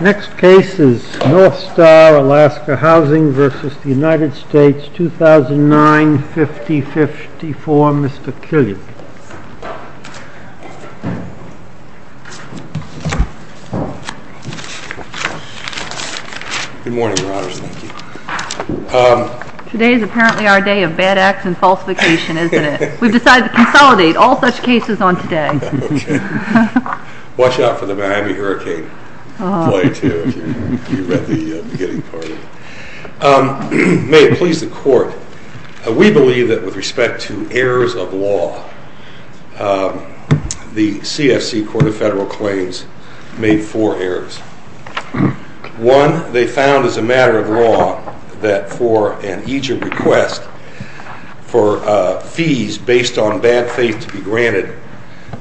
Next case is North Star Alaska Housing v. United States, 2009, 50-54, Mr. Killian. Good morning, your honors, thank you. Today is apparently our day of bad acts and falsification, isn't it? We've decided to consolidate all such cases on today. Watch out for the Miami hurricane. May it please the court, we believe that with respect to errors of law, the CFC Court of Federal Claims made four errors. One, they found as a matter of law that for an eager request for fees based on bad faith to be granted,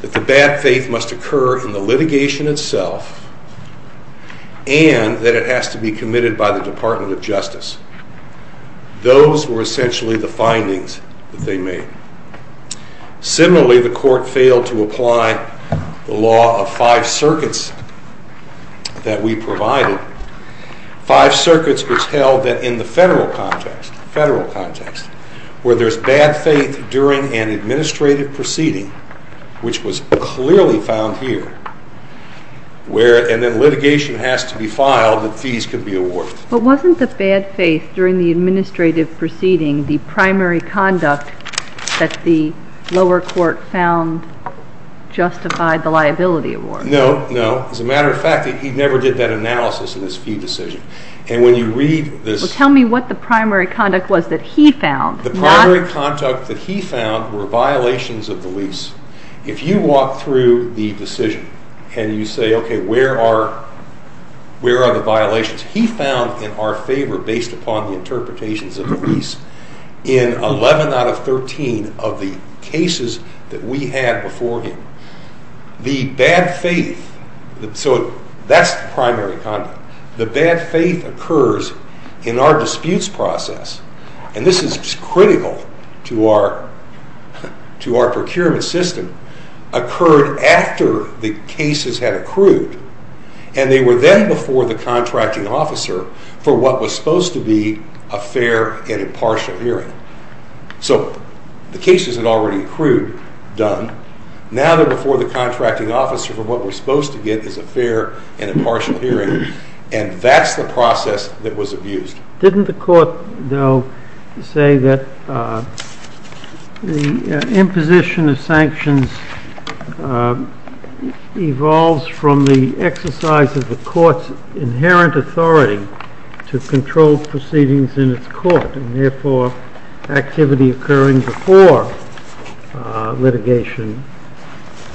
that the bad faith must occur in the litigation itself and that it has to be committed by the Department of Justice. Those were essentially the findings that they made. Similarly, the court failed to apply the law of five circuits that we provided. Five circuits which held that in the federal context, where there's bad faith during an administrative proceeding, which was clearly found here, and then litigation has to be filed that fees can be awarded. But wasn't the bad faith during the administrative proceeding the primary conduct that the lower court found justified the liability award? No, no. As a matter of fact, he never did that analysis in his fee decision. Tell me what the primary conduct was that he found. The primary conduct that he found were violations of the lease. If you walk through the decision and you say, okay, where are the violations? He found in our favor, based upon the interpretations of the lease, in 11 out of 13 of the cases that we had before him. The bad faith, so that's the primary conduct. The bad faith occurs in our disputes process, and this is critical to our procurement system, occurred after the cases had accrued, and they were then before the contracting officer for what was supposed to be a fair and impartial hearing. So the cases had already accrued, done. Now they're before the contracting officer for what we're supposed to get is a fair and impartial hearing, and that's the process that was abused. Didn't the court, though, say that the imposition of sanctions evolves from the exercise of the court's inherent authority to control proceedings in its court, and therefore activity occurring before litigation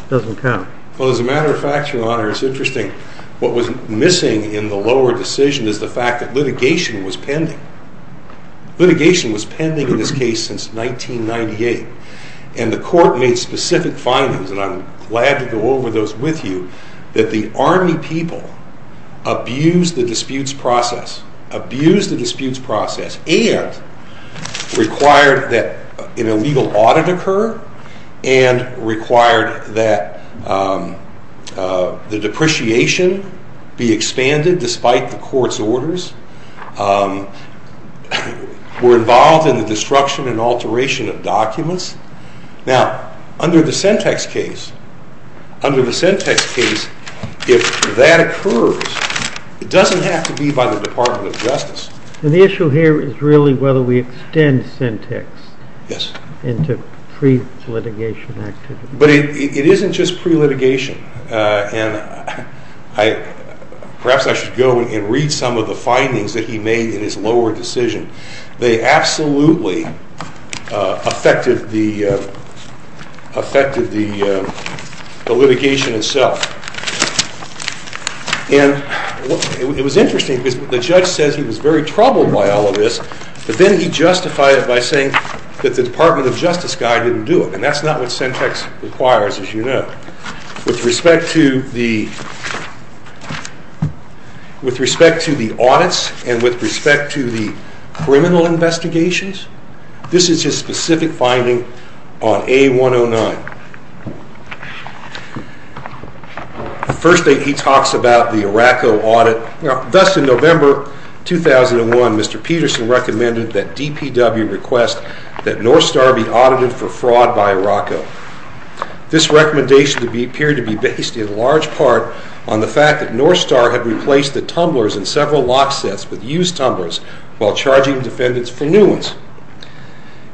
doesn't count? Well, as a matter of fact, Your Honor, it's interesting. What was missing in the lower decision is the fact that litigation was pending. Litigation was pending in this case since 1998, and the court made specific findings, and I'm glad to go over those with you, that the Army people abused the disputes process, abused the disputes process, and required that an illegal audit occur, and required that the depreciation be expanded despite the court's orders, were involved in the destruction and alteration of documents. Now, under the Sentex case, under the Sentex case, if that occurs, it doesn't have to be by the Department of Justice. The issue here is really whether we extend Sentex into pre-litigation activity. But it isn't just pre-litigation, and perhaps I should go and read some of the findings that he made in his lower decision. They absolutely affected the litigation itself. And it was interesting because the judge says he was very troubled by all of this, but then he justified it by saying that the Department of Justice guy didn't do it, and that's not what Sentex requires, as you know. With respect to the audits and with respect to the criminal investigations, this is his specific finding on A-109. The first thing he talks about the Iraqo audit, Thus, in November 2001, Mr. Peterson recommended that DPW request that Northstar be audited for fraud by Iraqo. This recommendation appeared to be based in large part on the fact that Northstar had replaced the tumblers in several lock sets with used tumblers, while charging defendants for new ones.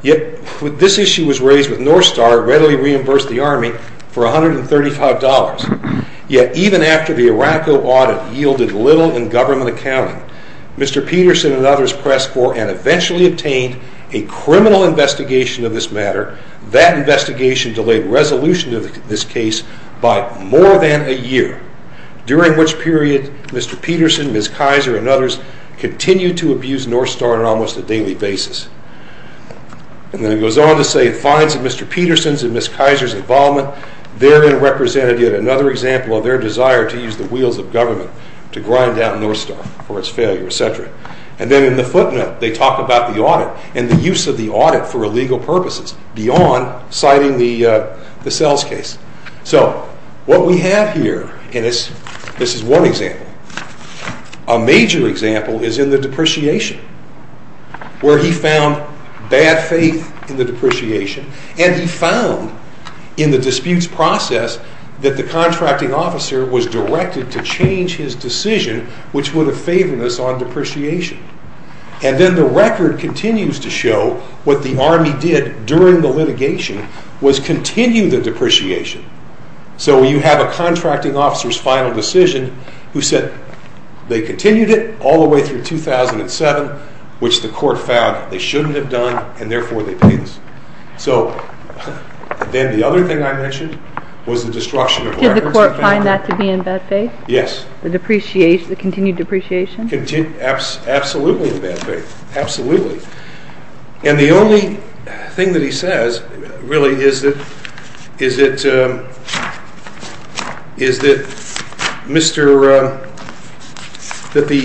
Yet, this issue was raised with Northstar readily reimbursed the Army for $135. Yet, even after the Iraqo audit yielded little in government accounting, Mr. Peterson and others pressed for and eventually obtained a criminal investigation of this matter. That investigation delayed resolution of this case by more than a year, during which period Mr. Peterson, Ms. Kaiser, and others continued to abuse Northstar on almost a daily basis. And then it goes on to say, It finds in Mr. Peterson's and Ms. Kaiser's involvement therein represented yet another example of their desire to use the wheels of government to grind down Northstar for its failure, etc. And then in the footnote, they talk about the audit and the use of the audit for illegal purposes beyond citing the Sells case. So, what we have here, and this is one example, a major example is in the depreciation, where he found bad faith in the depreciation, and he found in the disputes process that the contracting officer was directed to change his decision, which would have favored us on depreciation. And then the record continues to show what the Army did during the litigation was continue the depreciation. So, you have a contracting officer's final decision who said they continued it all the way through 2007, which the court found they shouldn't have done, and therefore they paid us. So, then the other thing I mentioned was the destruction of records. Did the court find that to be in bad faith? Yes. The depreciation, the continued depreciation? Absolutely in bad faith, absolutely. And the only thing that he says really is that the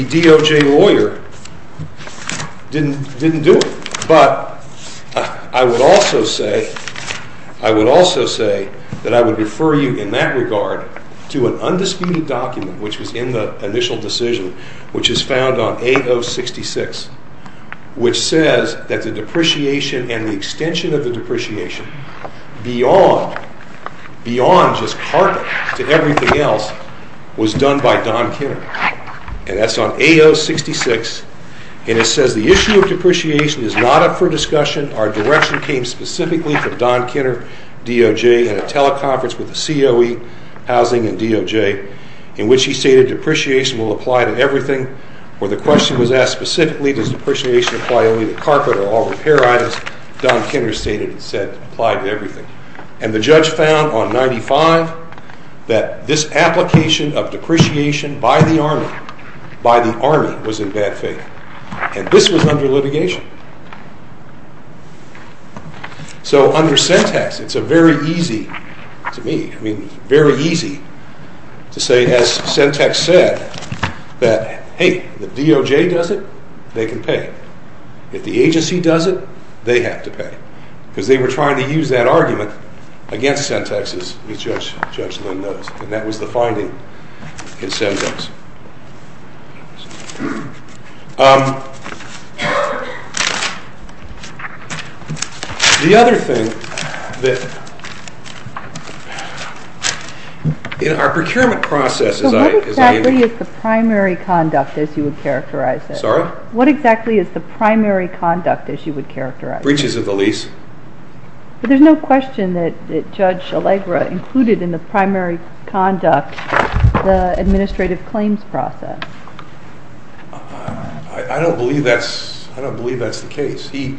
DOJ lawyer didn't do it. But I would also say that I would refer you in that regard to an undisputed document, which was in the initial decision, which is found on AO66, which says that the depreciation and the extension of the depreciation beyond just carpet to everything else was done by Don Kinner. And that's on AO66, and it says, The issue of depreciation is not up for discussion. Our direction came specifically from Don Kinner, DOJ, at a teleconference with the COE, Housing, and DOJ, in which he stated depreciation will apply to everything. Where the question was asked specifically, does depreciation apply only to carpet or all repair items, Don Kinner stated it said it applied to everything. And the judge found on 95 that this application of depreciation by the Army, by the Army, was in bad faith. And this was under litigation. So under Sentex, it's a very easy, to me, I mean, very easy to say, as Sentex said, that, hey, if the DOJ does it, they can pay. If the agency does it, they have to pay. Because they were trying to use that argument against Sentex, as Judge Lynn knows. And that was the finding in Sentex. The other thing that, in our procurement process, as I, as I... So what exactly is the primary conduct, as you would characterize it? Sorry? What exactly is the primary conduct, as you would characterize it? Breaches of the lease. But there's no question that Judge Allegra included in the primary conduct the administrative claims process. I don't believe that's, I don't believe that's the case. He,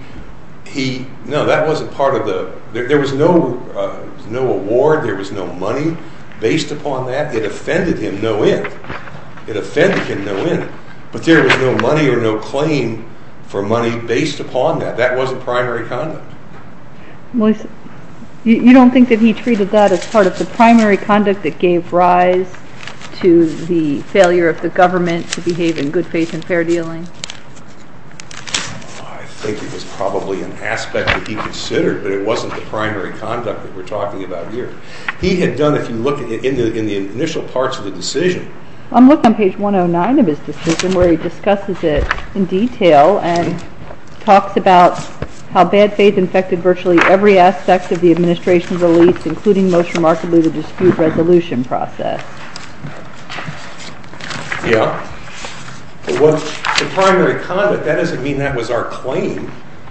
he, no, that wasn't part of the, there was no, no award. There was no money based upon that. It offended him, no end. It offended him, no end. But there was no money or no claim for money based upon that. That wasn't primary conduct. Well, you don't think that he treated that as part of the primary conduct that gave rise to the failure of the government to behave in good faith and fair dealing? I think it was probably an aspect that he considered, but it wasn't the primary conduct that we're talking about here. He had done, if you look in the initial parts of the decision. I'm looking on page 109 of his decision where he discusses it in detail and talks about how bad faith infected virtually every aspect of the administration's release, including most remarkably the dispute resolution process. Yeah. But what, the primary conduct, that doesn't mean that was our claim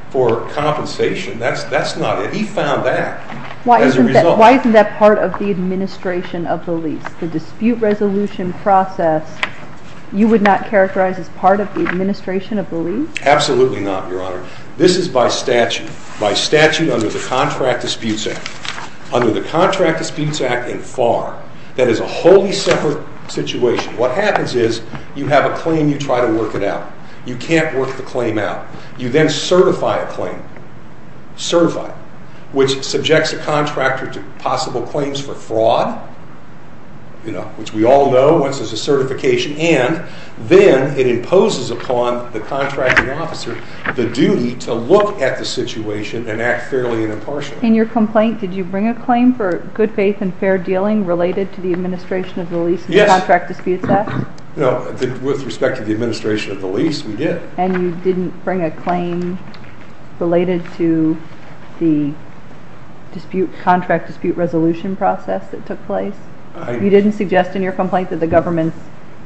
for compensation. That's, that's not it. He found that as a result. Why isn't that part of the administration of the lease? The dispute resolution process, you would not characterize as part of the administration of the lease? Absolutely not, Your Honor. This is by statute, by statute under the Contract Disputes Act. Under the Contract Disputes Act and FAR, that is a wholly separate situation. What happens is you have a claim, you try to work it out. You can't work the claim out. You then certify a claim, certify it, which subjects a contractor to possible claims for fraud, you know, which we all know once there's a certification. And then it imposes upon the contracting officer the duty to look at the situation and act fairly and impartially. In your complaint, did you bring a claim for good faith and fair dealing related to the administration of the lease in the Contract Disputes Act? Yes. No, with respect to the administration of the lease, we did. And you didn't bring a claim related to the dispute, contract dispute resolution process that took place? You didn't suggest in your complaint that the government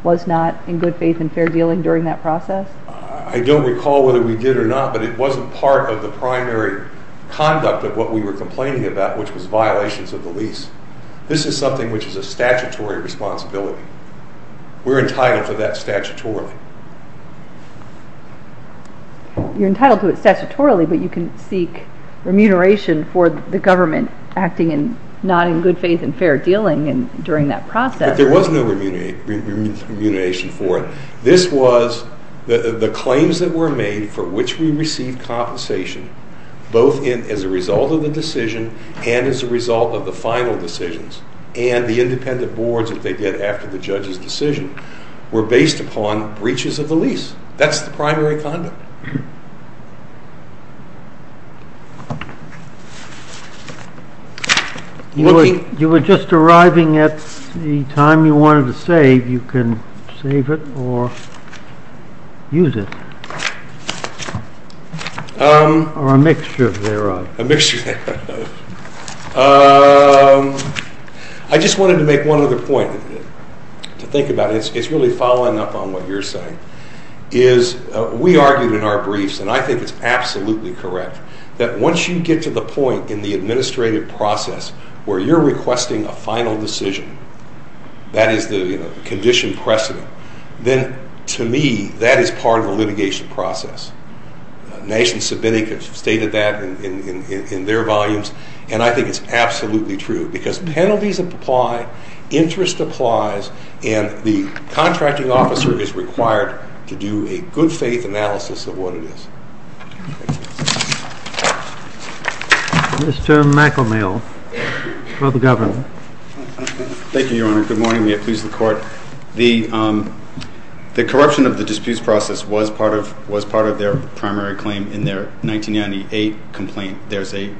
was not in good faith and fair dealing during that process? I don't recall whether we did or not, but it wasn't part of the primary conduct of what we were complaining about, which was violations of the lease. This is something which is a statutory responsibility. We're entitled to that statutorily. You're entitled to it statutorily, but you can seek remuneration for the government acting not in good faith and fair dealing during that process. But there was no remuneration for it. This was the claims that were made for which we received compensation, both as a result of the decision and as a result of the final decisions. And the independent boards, as they did after the judge's decision, were based upon breaches of the lease. That's the primary conduct. You were just arriving at the time you wanted to save. You can save it or use it. Or a mixture thereof. A mixture thereof. I just wanted to make one other point to think about. It's really following up on what you're saying. We argued in our briefs, and I think it's absolutely correct, that once you get to the point in the administrative process where you're requesting a final decision, that is the condition precedent, then to me that is part of the litigation process. Nation Sabinic has stated that in their volumes, and I think it's absolutely true. Because penalties apply, interest applies, and the contracting officer is required to do a good faith analysis of what it is. Thank you. Mr. McElmill for the government. Thank you, Your Honor. Good morning. May it please the Court. The corruption of the disputes process was part of their primary claim in their 1998 complaint. There's a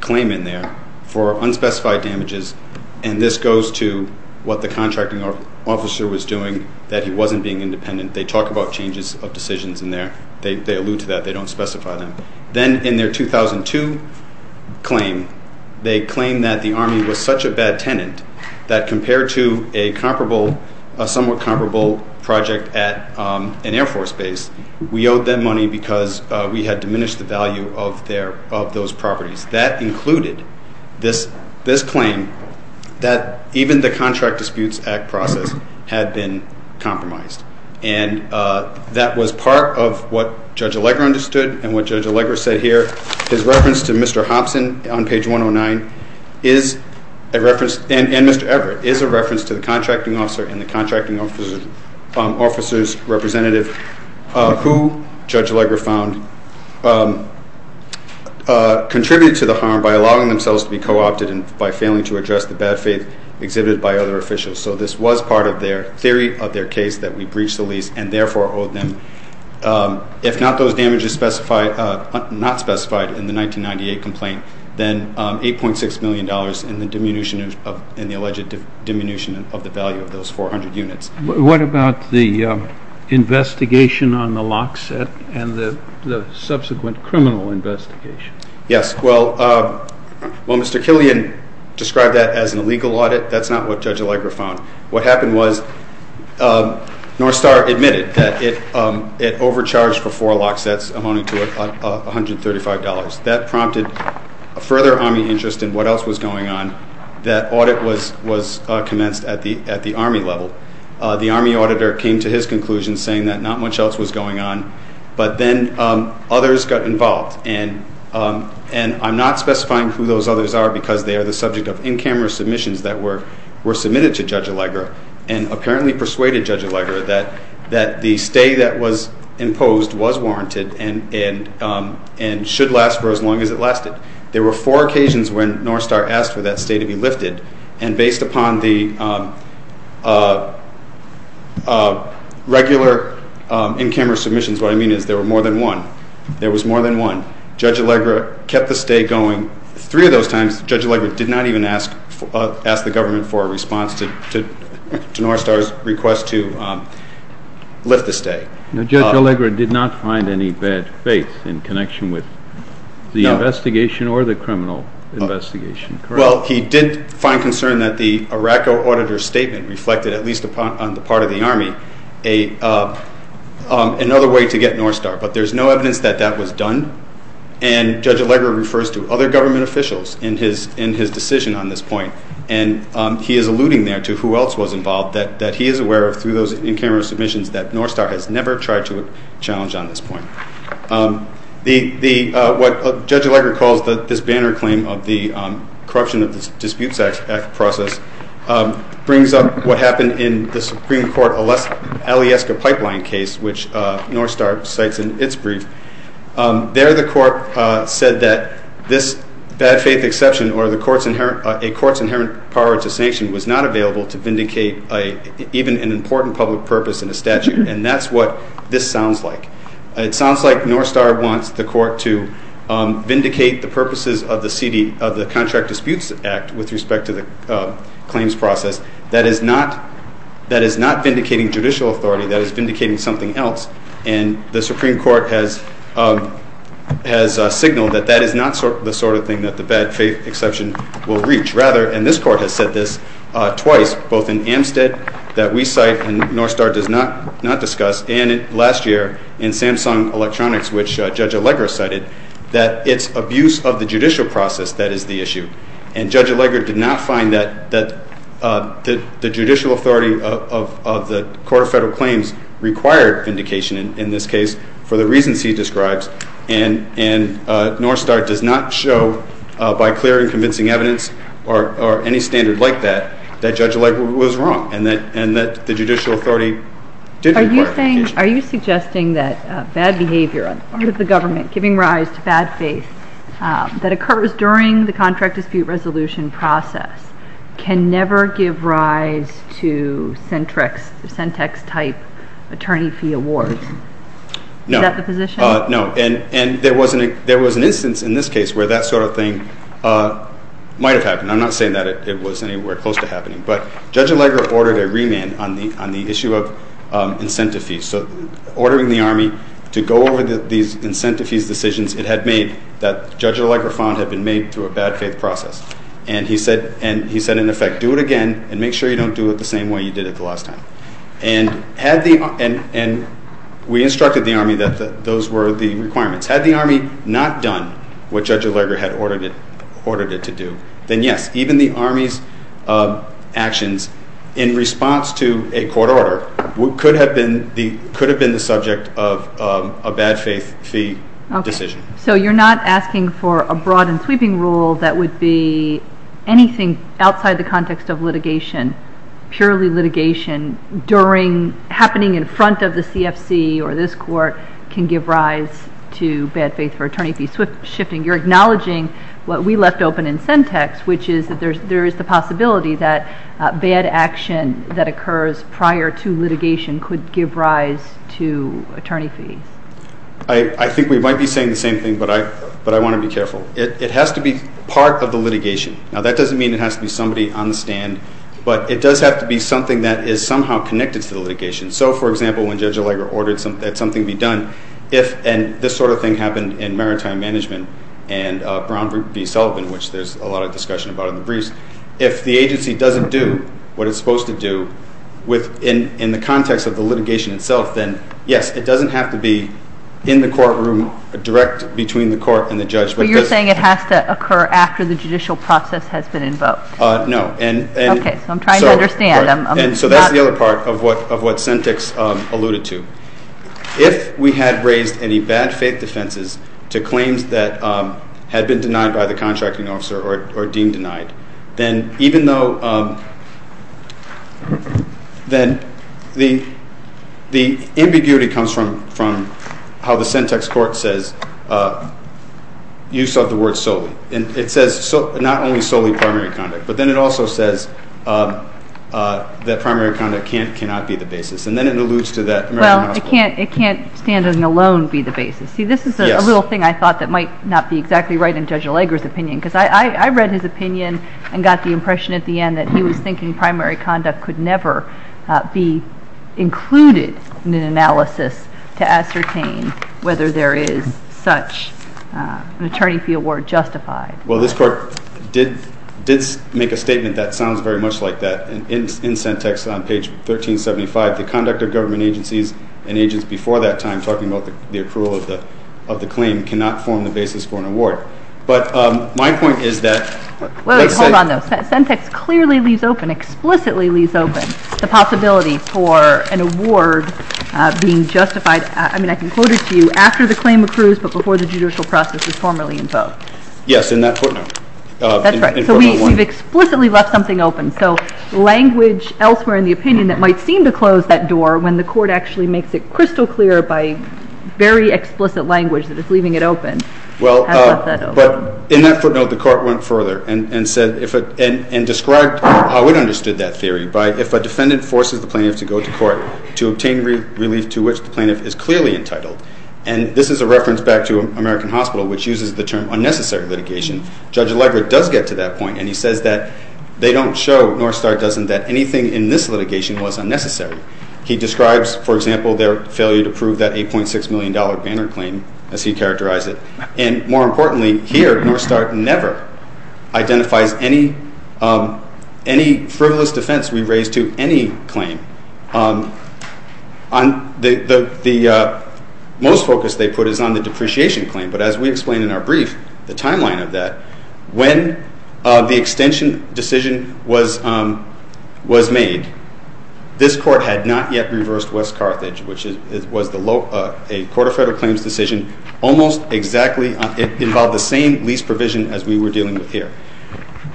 claim in there for unspecified damages, and this goes to what the contracting officer was doing, that he wasn't being independent. They talk about changes of decisions in there. They allude to that. They don't specify them. Then in their 2002 claim, they claim that the Army was such a bad tenant that compared to a somewhat comparable project at an Air Force base, we owed them money because we had diminished the value of those properties. That included this claim that even the Contract Disputes Act process had been compromised. And that was part of what Judge Allegra understood and what Judge Allegra said here. His reference to Mr. Hopson on page 109 is a reference, and Mr. Everett, is a reference to the contracting officer and the contracting officer's representative who Judge Allegra found contributed to the harm by allowing themselves to be co-opted and by failing to address the bad faith exhibited by other officials. So this was part of their theory of their case that we breached the lease and therefore owed them. If not those damages specified, not specified in the 1998 complaint, then $8.6 million in the alleged diminution of the value of those 400 units. What about the investigation on the lock set and the subsequent criminal investigation? Yes, well, Mr. Killian described that as an illegal audit. That's not what Judge Allegra found. What happened was Northstar admitted that it overcharged for four lock sets amounting to $135. That prompted a further Army interest in what else was going on. That audit was commenced at the Army level. The Army auditor came to his conclusion saying that not much else was going on, but then others got involved. And I'm not specifying who those others are because they are the subject of in-camera submissions that were submitted to Judge Allegra and apparently persuaded Judge Allegra that the stay that was imposed was warranted and should last for as long as it lasted. There were four occasions when Northstar asked for that stay to be lifted. And based upon the regular in-camera submissions, what I mean is there were more than one. Judge Allegra kept the stay going. Three of those times, Judge Allegra did not even ask the government for a response to Northstar's request to lift the stay. Now, Judge Allegra did not find any bad faith in connection with the investigation or the criminal investigation, correct? Well, he did find concern that the Iraq auditor's statement reflected, at least on the part of the Army, another way to get Northstar. But there's no evidence that that was done. And Judge Allegra refers to other government officials in his decision on this point. And he is alluding there to who else was involved that he is aware of through those in-camera submissions that Northstar has never tried to challenge on this point. What Judge Allegra calls this banner claim of the corruption of the Disputes Act process brings up what happened in the Supreme Court Alieska Pipeline case, which Northstar cites in its brief. There the court said that this bad faith exception or a court's inherent power to sanction was not available to vindicate even an important public purpose in a statute. And that's what this sounds like. It sounds like Northstar wants the court to vindicate the purposes of the contract Disputes Act with respect to the claims process. That is not vindicating judicial authority. That is vindicating something else. And the Supreme Court has signaled that that is not the sort of thing that the bad faith exception will reach. Rather, and this court has said this twice, both in Amstead that we cite and Northstar does not discuss, and last year in Samsung Electronics, which Judge Allegra cited, that it's abuse of the judicial process that is the issue. And Judge Allegra did not find that the judicial authority of the Court of Federal Claims required vindication in this case for the reasons he describes. And Northstar does not show, by clear and convincing evidence or any standard like that, that Judge Allegra was wrong and that the judicial authority didn't require vindication. Are you suggesting that bad behavior on the part of the government, giving rise to bad faith, that occurs during the contract dispute resolution process, can never give rise to centric, centex-type attorney fee awards? No. Is that the position? No. And there was an instance in this case where that sort of thing might have happened. I'm not saying that it was anywhere close to happening. But Judge Allegra ordered a remand on the issue of incentive fees. So ordering the Army to go over these incentive fees decisions it had made that Judge Allegra found had been made through a bad faith process. And he said, in effect, do it again and make sure you don't do it the same way you did it the last time. And we instructed the Army that those were the requirements. Had the Army not done what Judge Allegra had ordered it to do, then yes, even the Army's actions in response to a court order could have been the subject of a bad faith fee decision. So you're not asking for a broad and sweeping rule that would be anything outside the context of litigation, purely litigation happening in front of the CFC or this court can give rise to bad faith for attorney fees? You're acknowledging what we left open in centex, which is that there is the possibility that bad action that occurs prior to litigation could give rise to attorney fees. I think we might be saying the same thing, but I want to be careful. It has to be part of the litigation. Now, that doesn't mean it has to be somebody on the stand, but it does have to be something that is somehow connected to the litigation. So, for example, when Judge Allegra ordered something be done, and this sort of thing happened in maritime management and Brown v. Sullivan, which there's a lot of discussion about in the briefs, if the agency doesn't do what it's supposed to do in the context of the litigation itself, then, yes, it doesn't have to be in the courtroom direct between the court and the judge. But you're saying it has to occur after the judicial process has been invoked? No. Okay, so I'm trying to understand. So that's the other part of what centex alluded to. If we had raised any bad faith defenses to claims that had been denied by the contracting officer or deemed denied, then even though the ambiguity comes from how the centex court says use of the word solely, and it says not only solely primary conduct, but then it also says that primary conduct cannot be the basis, and then it alludes to that American hospital. Well, it can't stand alone be the basis. See, this is a little thing I thought that might not be exactly right in Judge Allegra's opinion, because I read his opinion and got the impression at the end that he was thinking primary conduct could never be included in an analysis to ascertain whether there is such an attorney fee award justified. Well, this court did make a statement that sounds very much like that. In centex on page 1375, the conduct of government agencies and agents before that time, talking about the accrual of the claim, cannot form the basis for an award. But my point is that let's say- Hold on, though. Centex clearly leaves open, explicitly leaves open, the possibility for an award being justified, I mean I can quote it to you, after the claim accrues but before the judicial process is formally invoked. Yes, in that footnote. That's right. So we've explicitly left something open. So language elsewhere in the opinion that might seem to close that door when the court actually makes it crystal clear by very explicit language that it's leaving it open. I left that open. But in that footnote, the court went further and described how it understood that theory, by if a defendant forces the plaintiff to go to court to obtain relief to which the plaintiff is clearly entitled. And this is a reference back to American Hospital, which uses the term unnecessary litigation. Judge Allegra does get to that point, and he says that they don't show, nor start, that anything in this litigation was unnecessary. He describes, for example, their failure to prove that $8.6 million banner claim as he characterized it. And more importantly, here, nor start, never identifies any frivolous defense we raise to any claim. The most focus they put is on the depreciation claim, but as we explain in our brief, the timeline of that, when the extension decision was made, this court had not yet reversed West Carthage, which was a court of federal claims decision, almost exactly involved the same lease provision as we were dealing with here.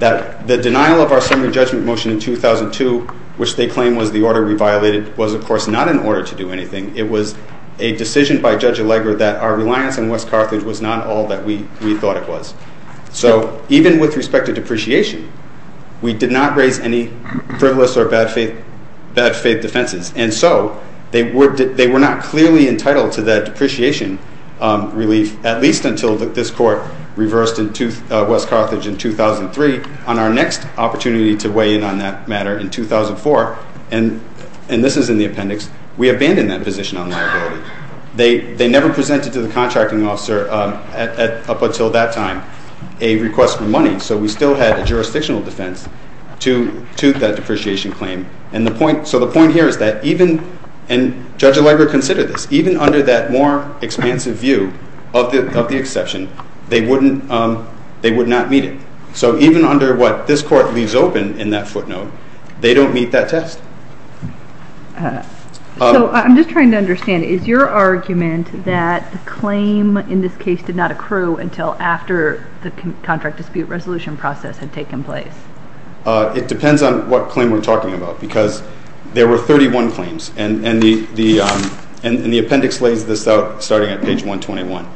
The denial of our summary judgment motion in 2002, which they claim was the order we violated, was, of course, not an order to do anything. It was a decision by Judge Allegra that our reliance on West Carthage was not all that we thought it was. So even with respect to depreciation, we did not raise any frivolous or bad faith defenses. And so they were not clearly entitled to that depreciation relief, at least until this court reversed West Carthage in 2003. On our next opportunity to weigh in on that matter in 2004, and this is in the appendix, we abandoned that position on liability. They never presented to the contracting officer up until that time a request for money, so we still had a jurisdictional defense to that depreciation claim. And the point here is that even, and Judge Allegra considered this, even under that more expansive view of the exception, they would not meet it. So even under what this court leaves open in that footnote, they don't meet that test. So I'm just trying to understand. Is your argument that the claim in this case did not accrue until after the contract dispute resolution process had taken place? It depends on what claim we're talking about because there were 31 claims, and the appendix lays this out starting at page 121.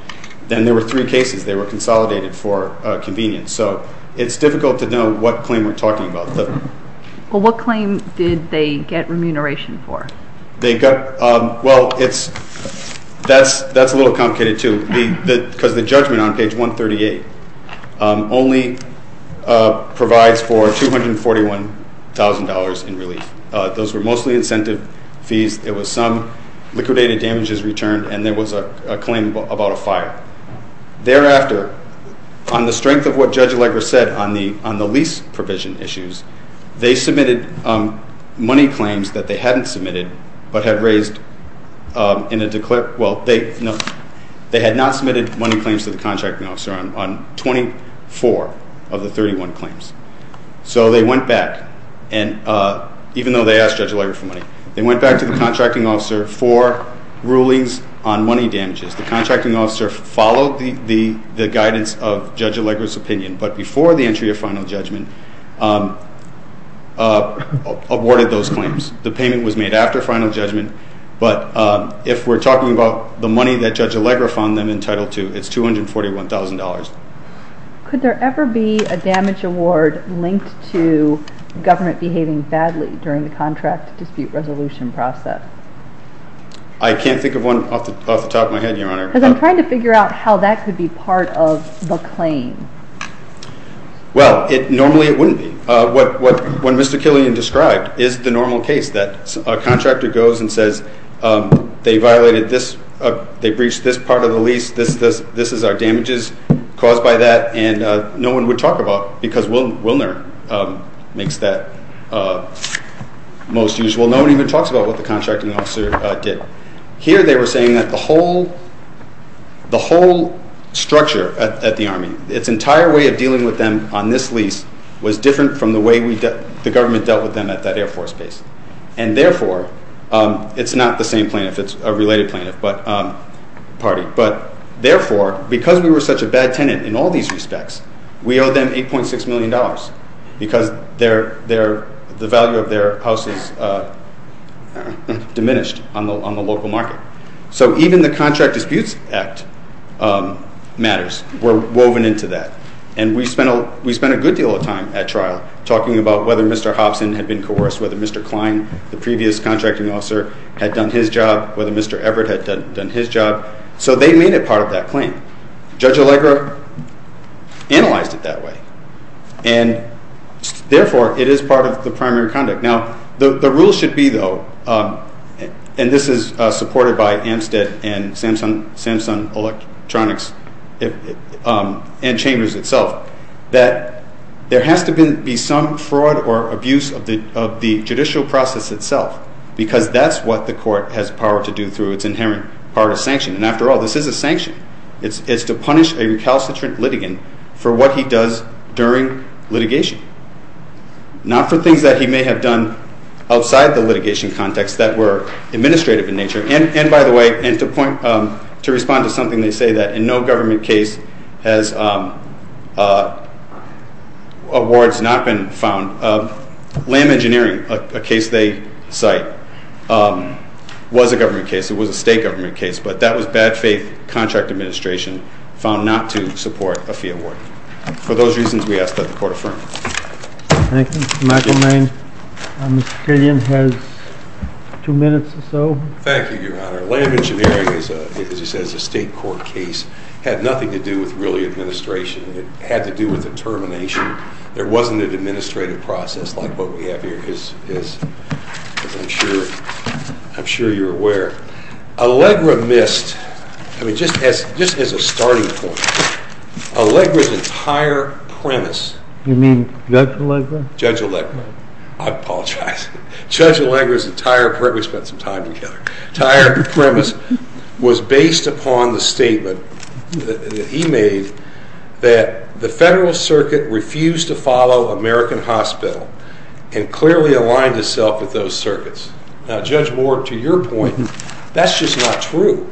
Then there were three cases. They were consolidated for convenience, so it's difficult to know what claim we're talking about. Well, what claim did they get remuneration for? Well, that's a little complicated, too, because the judgment on page 138 only provides for $241,000 in relief. Those were mostly incentive fees. It was some liquidated damages returned, and there was a claim about a fire. Thereafter, on the strength of what Judge Allegra said on the lease provision issues, they submitted money claims that they hadn't submitted but had raised in a declarative, well, they had not submitted money claims to the contracting officer on 24 of the 31 claims. So they went back, and even though they asked Judge Allegra for money, they went back to the contracting officer for rulings on money damages. The contracting officer followed the guidance of Judge Allegra's opinion, but before the entry of final judgment, awarded those claims. The payment was made after final judgment, but if we're talking about the money that Judge Allegra found them entitled to, it's $241,000. Could there ever be a damage award linked to government behaving badly during the contract dispute resolution process? I can't think of one off the top of my head, Your Honor. Because I'm trying to figure out how that could be part of the claim. Well, normally it wouldn't be. What Mr. Killian described is the normal case that a contractor goes and says, they violated this, they breached this part of the lease, this is our damages caused by that, and no one would talk about it because Wilner makes that most usual. Well, no one even talks about what the contracting officer did. Here they were saying that the whole structure at the Army, its entire way of dealing with them on this lease, was different from the way the government dealt with them at that Air Force base. And therefore, it's not the same plaintiff, it's a related plaintiff party, but therefore, because we were such a bad tenant in all these respects, we owe them $8.6 million because the value of their house is diminished on the local market. So even the Contract Disputes Act matters. We're woven into that. And we spent a good deal of time at trial talking about whether Mr. Hobson had been coerced, whether Mr. Klein, the previous contracting officer, had done his job, whether Mr. Everett had done his job. So they made it part of that claim. Judge Allegra analyzed it that way. And therefore, it is part of the primary conduct. Now, the rule should be, though, and this is supported by Amstead and Samsung Electronics and Chambers itself, that there has to be some fraud or abuse of the judicial process itself because that's what the court has power to do through its inherent part of sanction. And after all, this is a sanction. It's to punish a recalcitrant litigant for what he does during litigation, not for things that he may have done outside the litigation context that were administrative in nature. And by the way, to respond to something they say, that in no government case has awards not been found, LAM engineering, a case they cite, was a government case. It was a state government case. But that was bad faith contract administration found not to support a fee award. For those reasons, we ask that the court affirm. Thank you. Michael Mayne. Mr. Killian has two minutes or so. Thank you, Your Honor. LAM engineering, as he says, is a state court case. It had nothing to do with really administration. It had to do with determination. There wasn't an administrative process like what we have here, as I'm sure you're aware. Allegra missed, just as a starting point, Allegra's entire premise. You mean Judge Allegra? Judge Allegra. I apologize. Judge Allegra's entire premise, we spent some time together, was based upon the statement that he made that the Federal Circuit refused to follow American Hospital and clearly aligned itself with those circuits. Now, Judge Moore, to your point, that's just not true.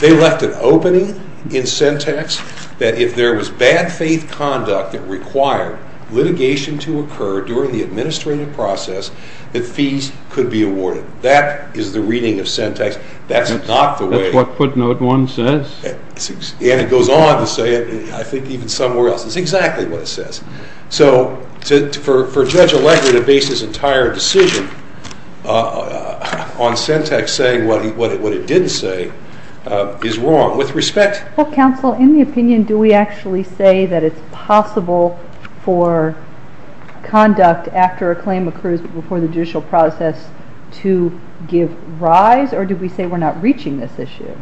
They left an opening in syntax that if there was bad faith conduct that required litigation to occur during the administrative process, that fees could be awarded. That is the reading of syntax. That's not the way. That's what footnote one says. And it goes on to say it, I think even somewhere else. It's exactly what it says. So for Judge Allegra to base his entire decision on syntax saying what it didn't say is wrong. With respect. Well, counsel, in the opinion, do we actually say that it's possible for conduct after a claim occurs before the judicial process to give rise, or do we say we're not reaching this issue?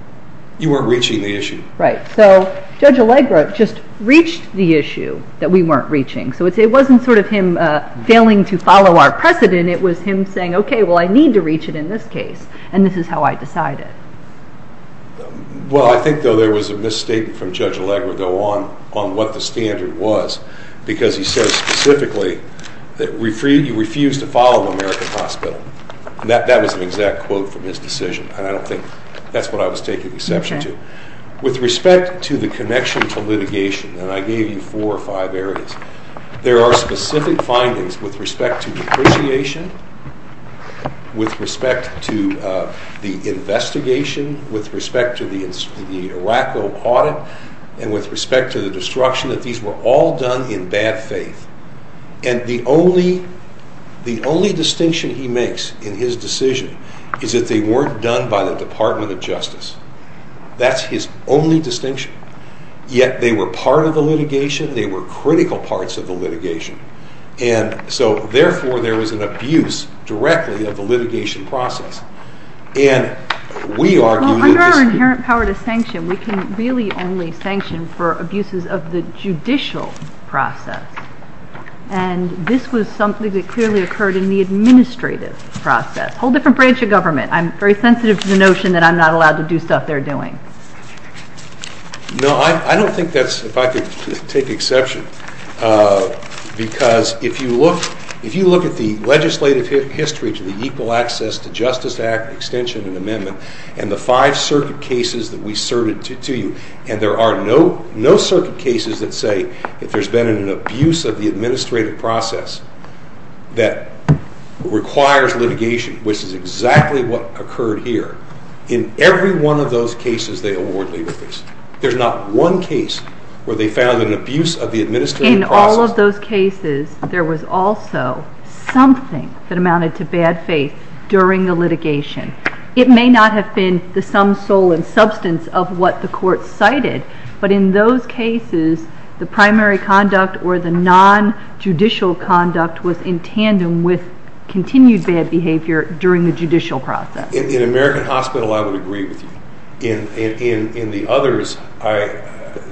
You weren't reaching the issue. Right. So Judge Allegra just reached the issue that we weren't reaching. So it wasn't sort of him failing to follow our precedent. It was him saying, okay, well, I need to reach it in this case, and this is how I decide it. Well, I think, though, there was a misstatement from Judge Allegra, though, on what the standard was because he said specifically that you refused to follow American Hospital. That was an exact quote from his decision, and I don't think that's what I was taking exception to. With respect to the connection to litigation, and I gave you four or five areas, there are specific findings with respect to depreciation, with respect to the investigation, with respect to the Iraqo audit, and with respect to the destruction, that these were all done in bad faith. And the only distinction he makes in his decision is that they weren't done by the Department of Justice. That's his only distinction. Yet they were part of the litigation. They were critical parts of the litigation. And so, therefore, there was an abuse directly of the litigation process. Well, under our inherent power to sanction, we can really only sanction for abuses of the judicial process. And this was something that clearly occurred in the administrative process. A whole different branch of government. I'm very sensitive to the notion that I'm not allowed to do stuff they're doing. No, I don't think that's, if I could take exception, because if you look at the legislative history to the Equal Access to Justice Act extension and amendment, and the five circuit cases that we served to you, and there are no circuit cases that say that there's been an abuse of the administrative process that requires litigation, which is exactly what occurred here. In every one of those cases, they award legal fees. There's not one case where they found an abuse of the administrative process. In all of those cases, there was also something that amounted to bad faith during the litigation. It may not have been the sum sole and substance of what the court cited, but in those cases, the primary conduct or the non-judicial conduct was in tandem with continued bad behavior during the judicial process. In American Hospital, I would agree with you. In the others,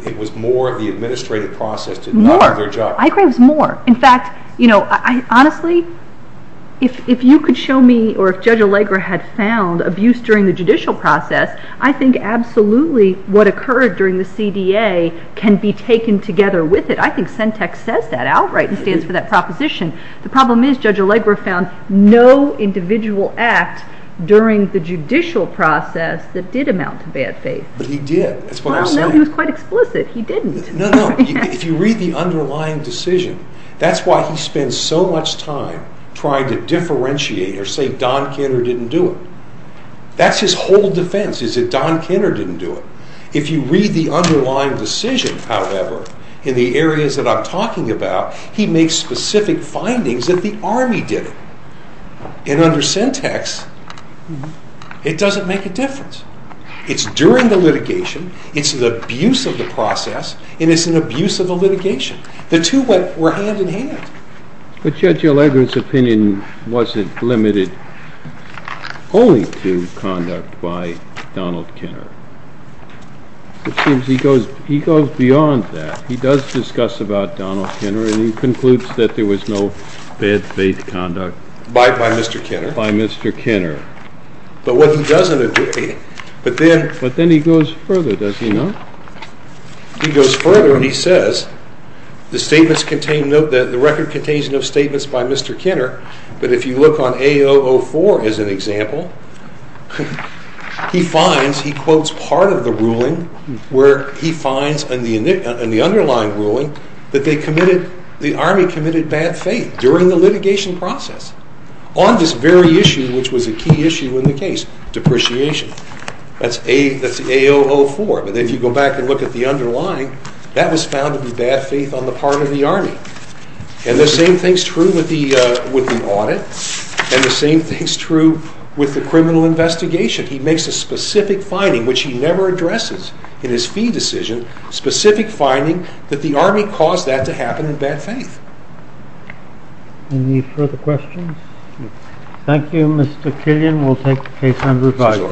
it was more the administrative process did not do their job. More. I agree it was more. In fact, honestly, if you could show me or if Judge Allegra had found abuse during the judicial process, I think absolutely what occurred during the CDA can be taken together with it. I think Centex says that outright and stands for that proposition. The problem is Judge Allegra found no individual act during the judicial process that did amount to bad faith. But he did. That's what I'm saying. Well, no. He was quite explicit. He didn't. No, no. If you read the underlying decision, that's why he spends so much time trying to differentiate or say Don Kenner didn't do it. That's his whole defense is that Don Kenner didn't do it. If you read the underlying decision, however, in the areas that I'm talking about, he makes specific findings that the Army did it. And under Centex, it doesn't make a difference. It's during the litigation, it's the abuse of the process, and it's an abuse of the litigation. The two were hand-in-hand. But Judge Allegra's opinion wasn't limited only to conduct by Donald Kenner. It seems he goes beyond that. He does discuss about Donald Kenner, and he concludes that there was no bad faith conduct. By Mr. Kenner. By Mr. Kenner. But what he doesn't agree, but then… But then he goes further, doesn't he, no? He goes further, and he says the record contains no statements by Mr. Kenner, but if you look on A004 as an example, he finds, he quotes part of the ruling where he finds in the underlying ruling that the Army committed bad faith during the litigation process on this very issue which was a key issue in the case, depreciation. That's A004. But if you go back and look at the underlying, that was found to be bad faith on the part of the Army. And the same thing's true with the audit, and the same thing's true with the criminal investigation. He makes a specific finding, which he never addresses in his fee decision, specific finding that the Army caused that to happen in bad faith. Any further questions? Thank you, Mr. Killian. We'll take case number five.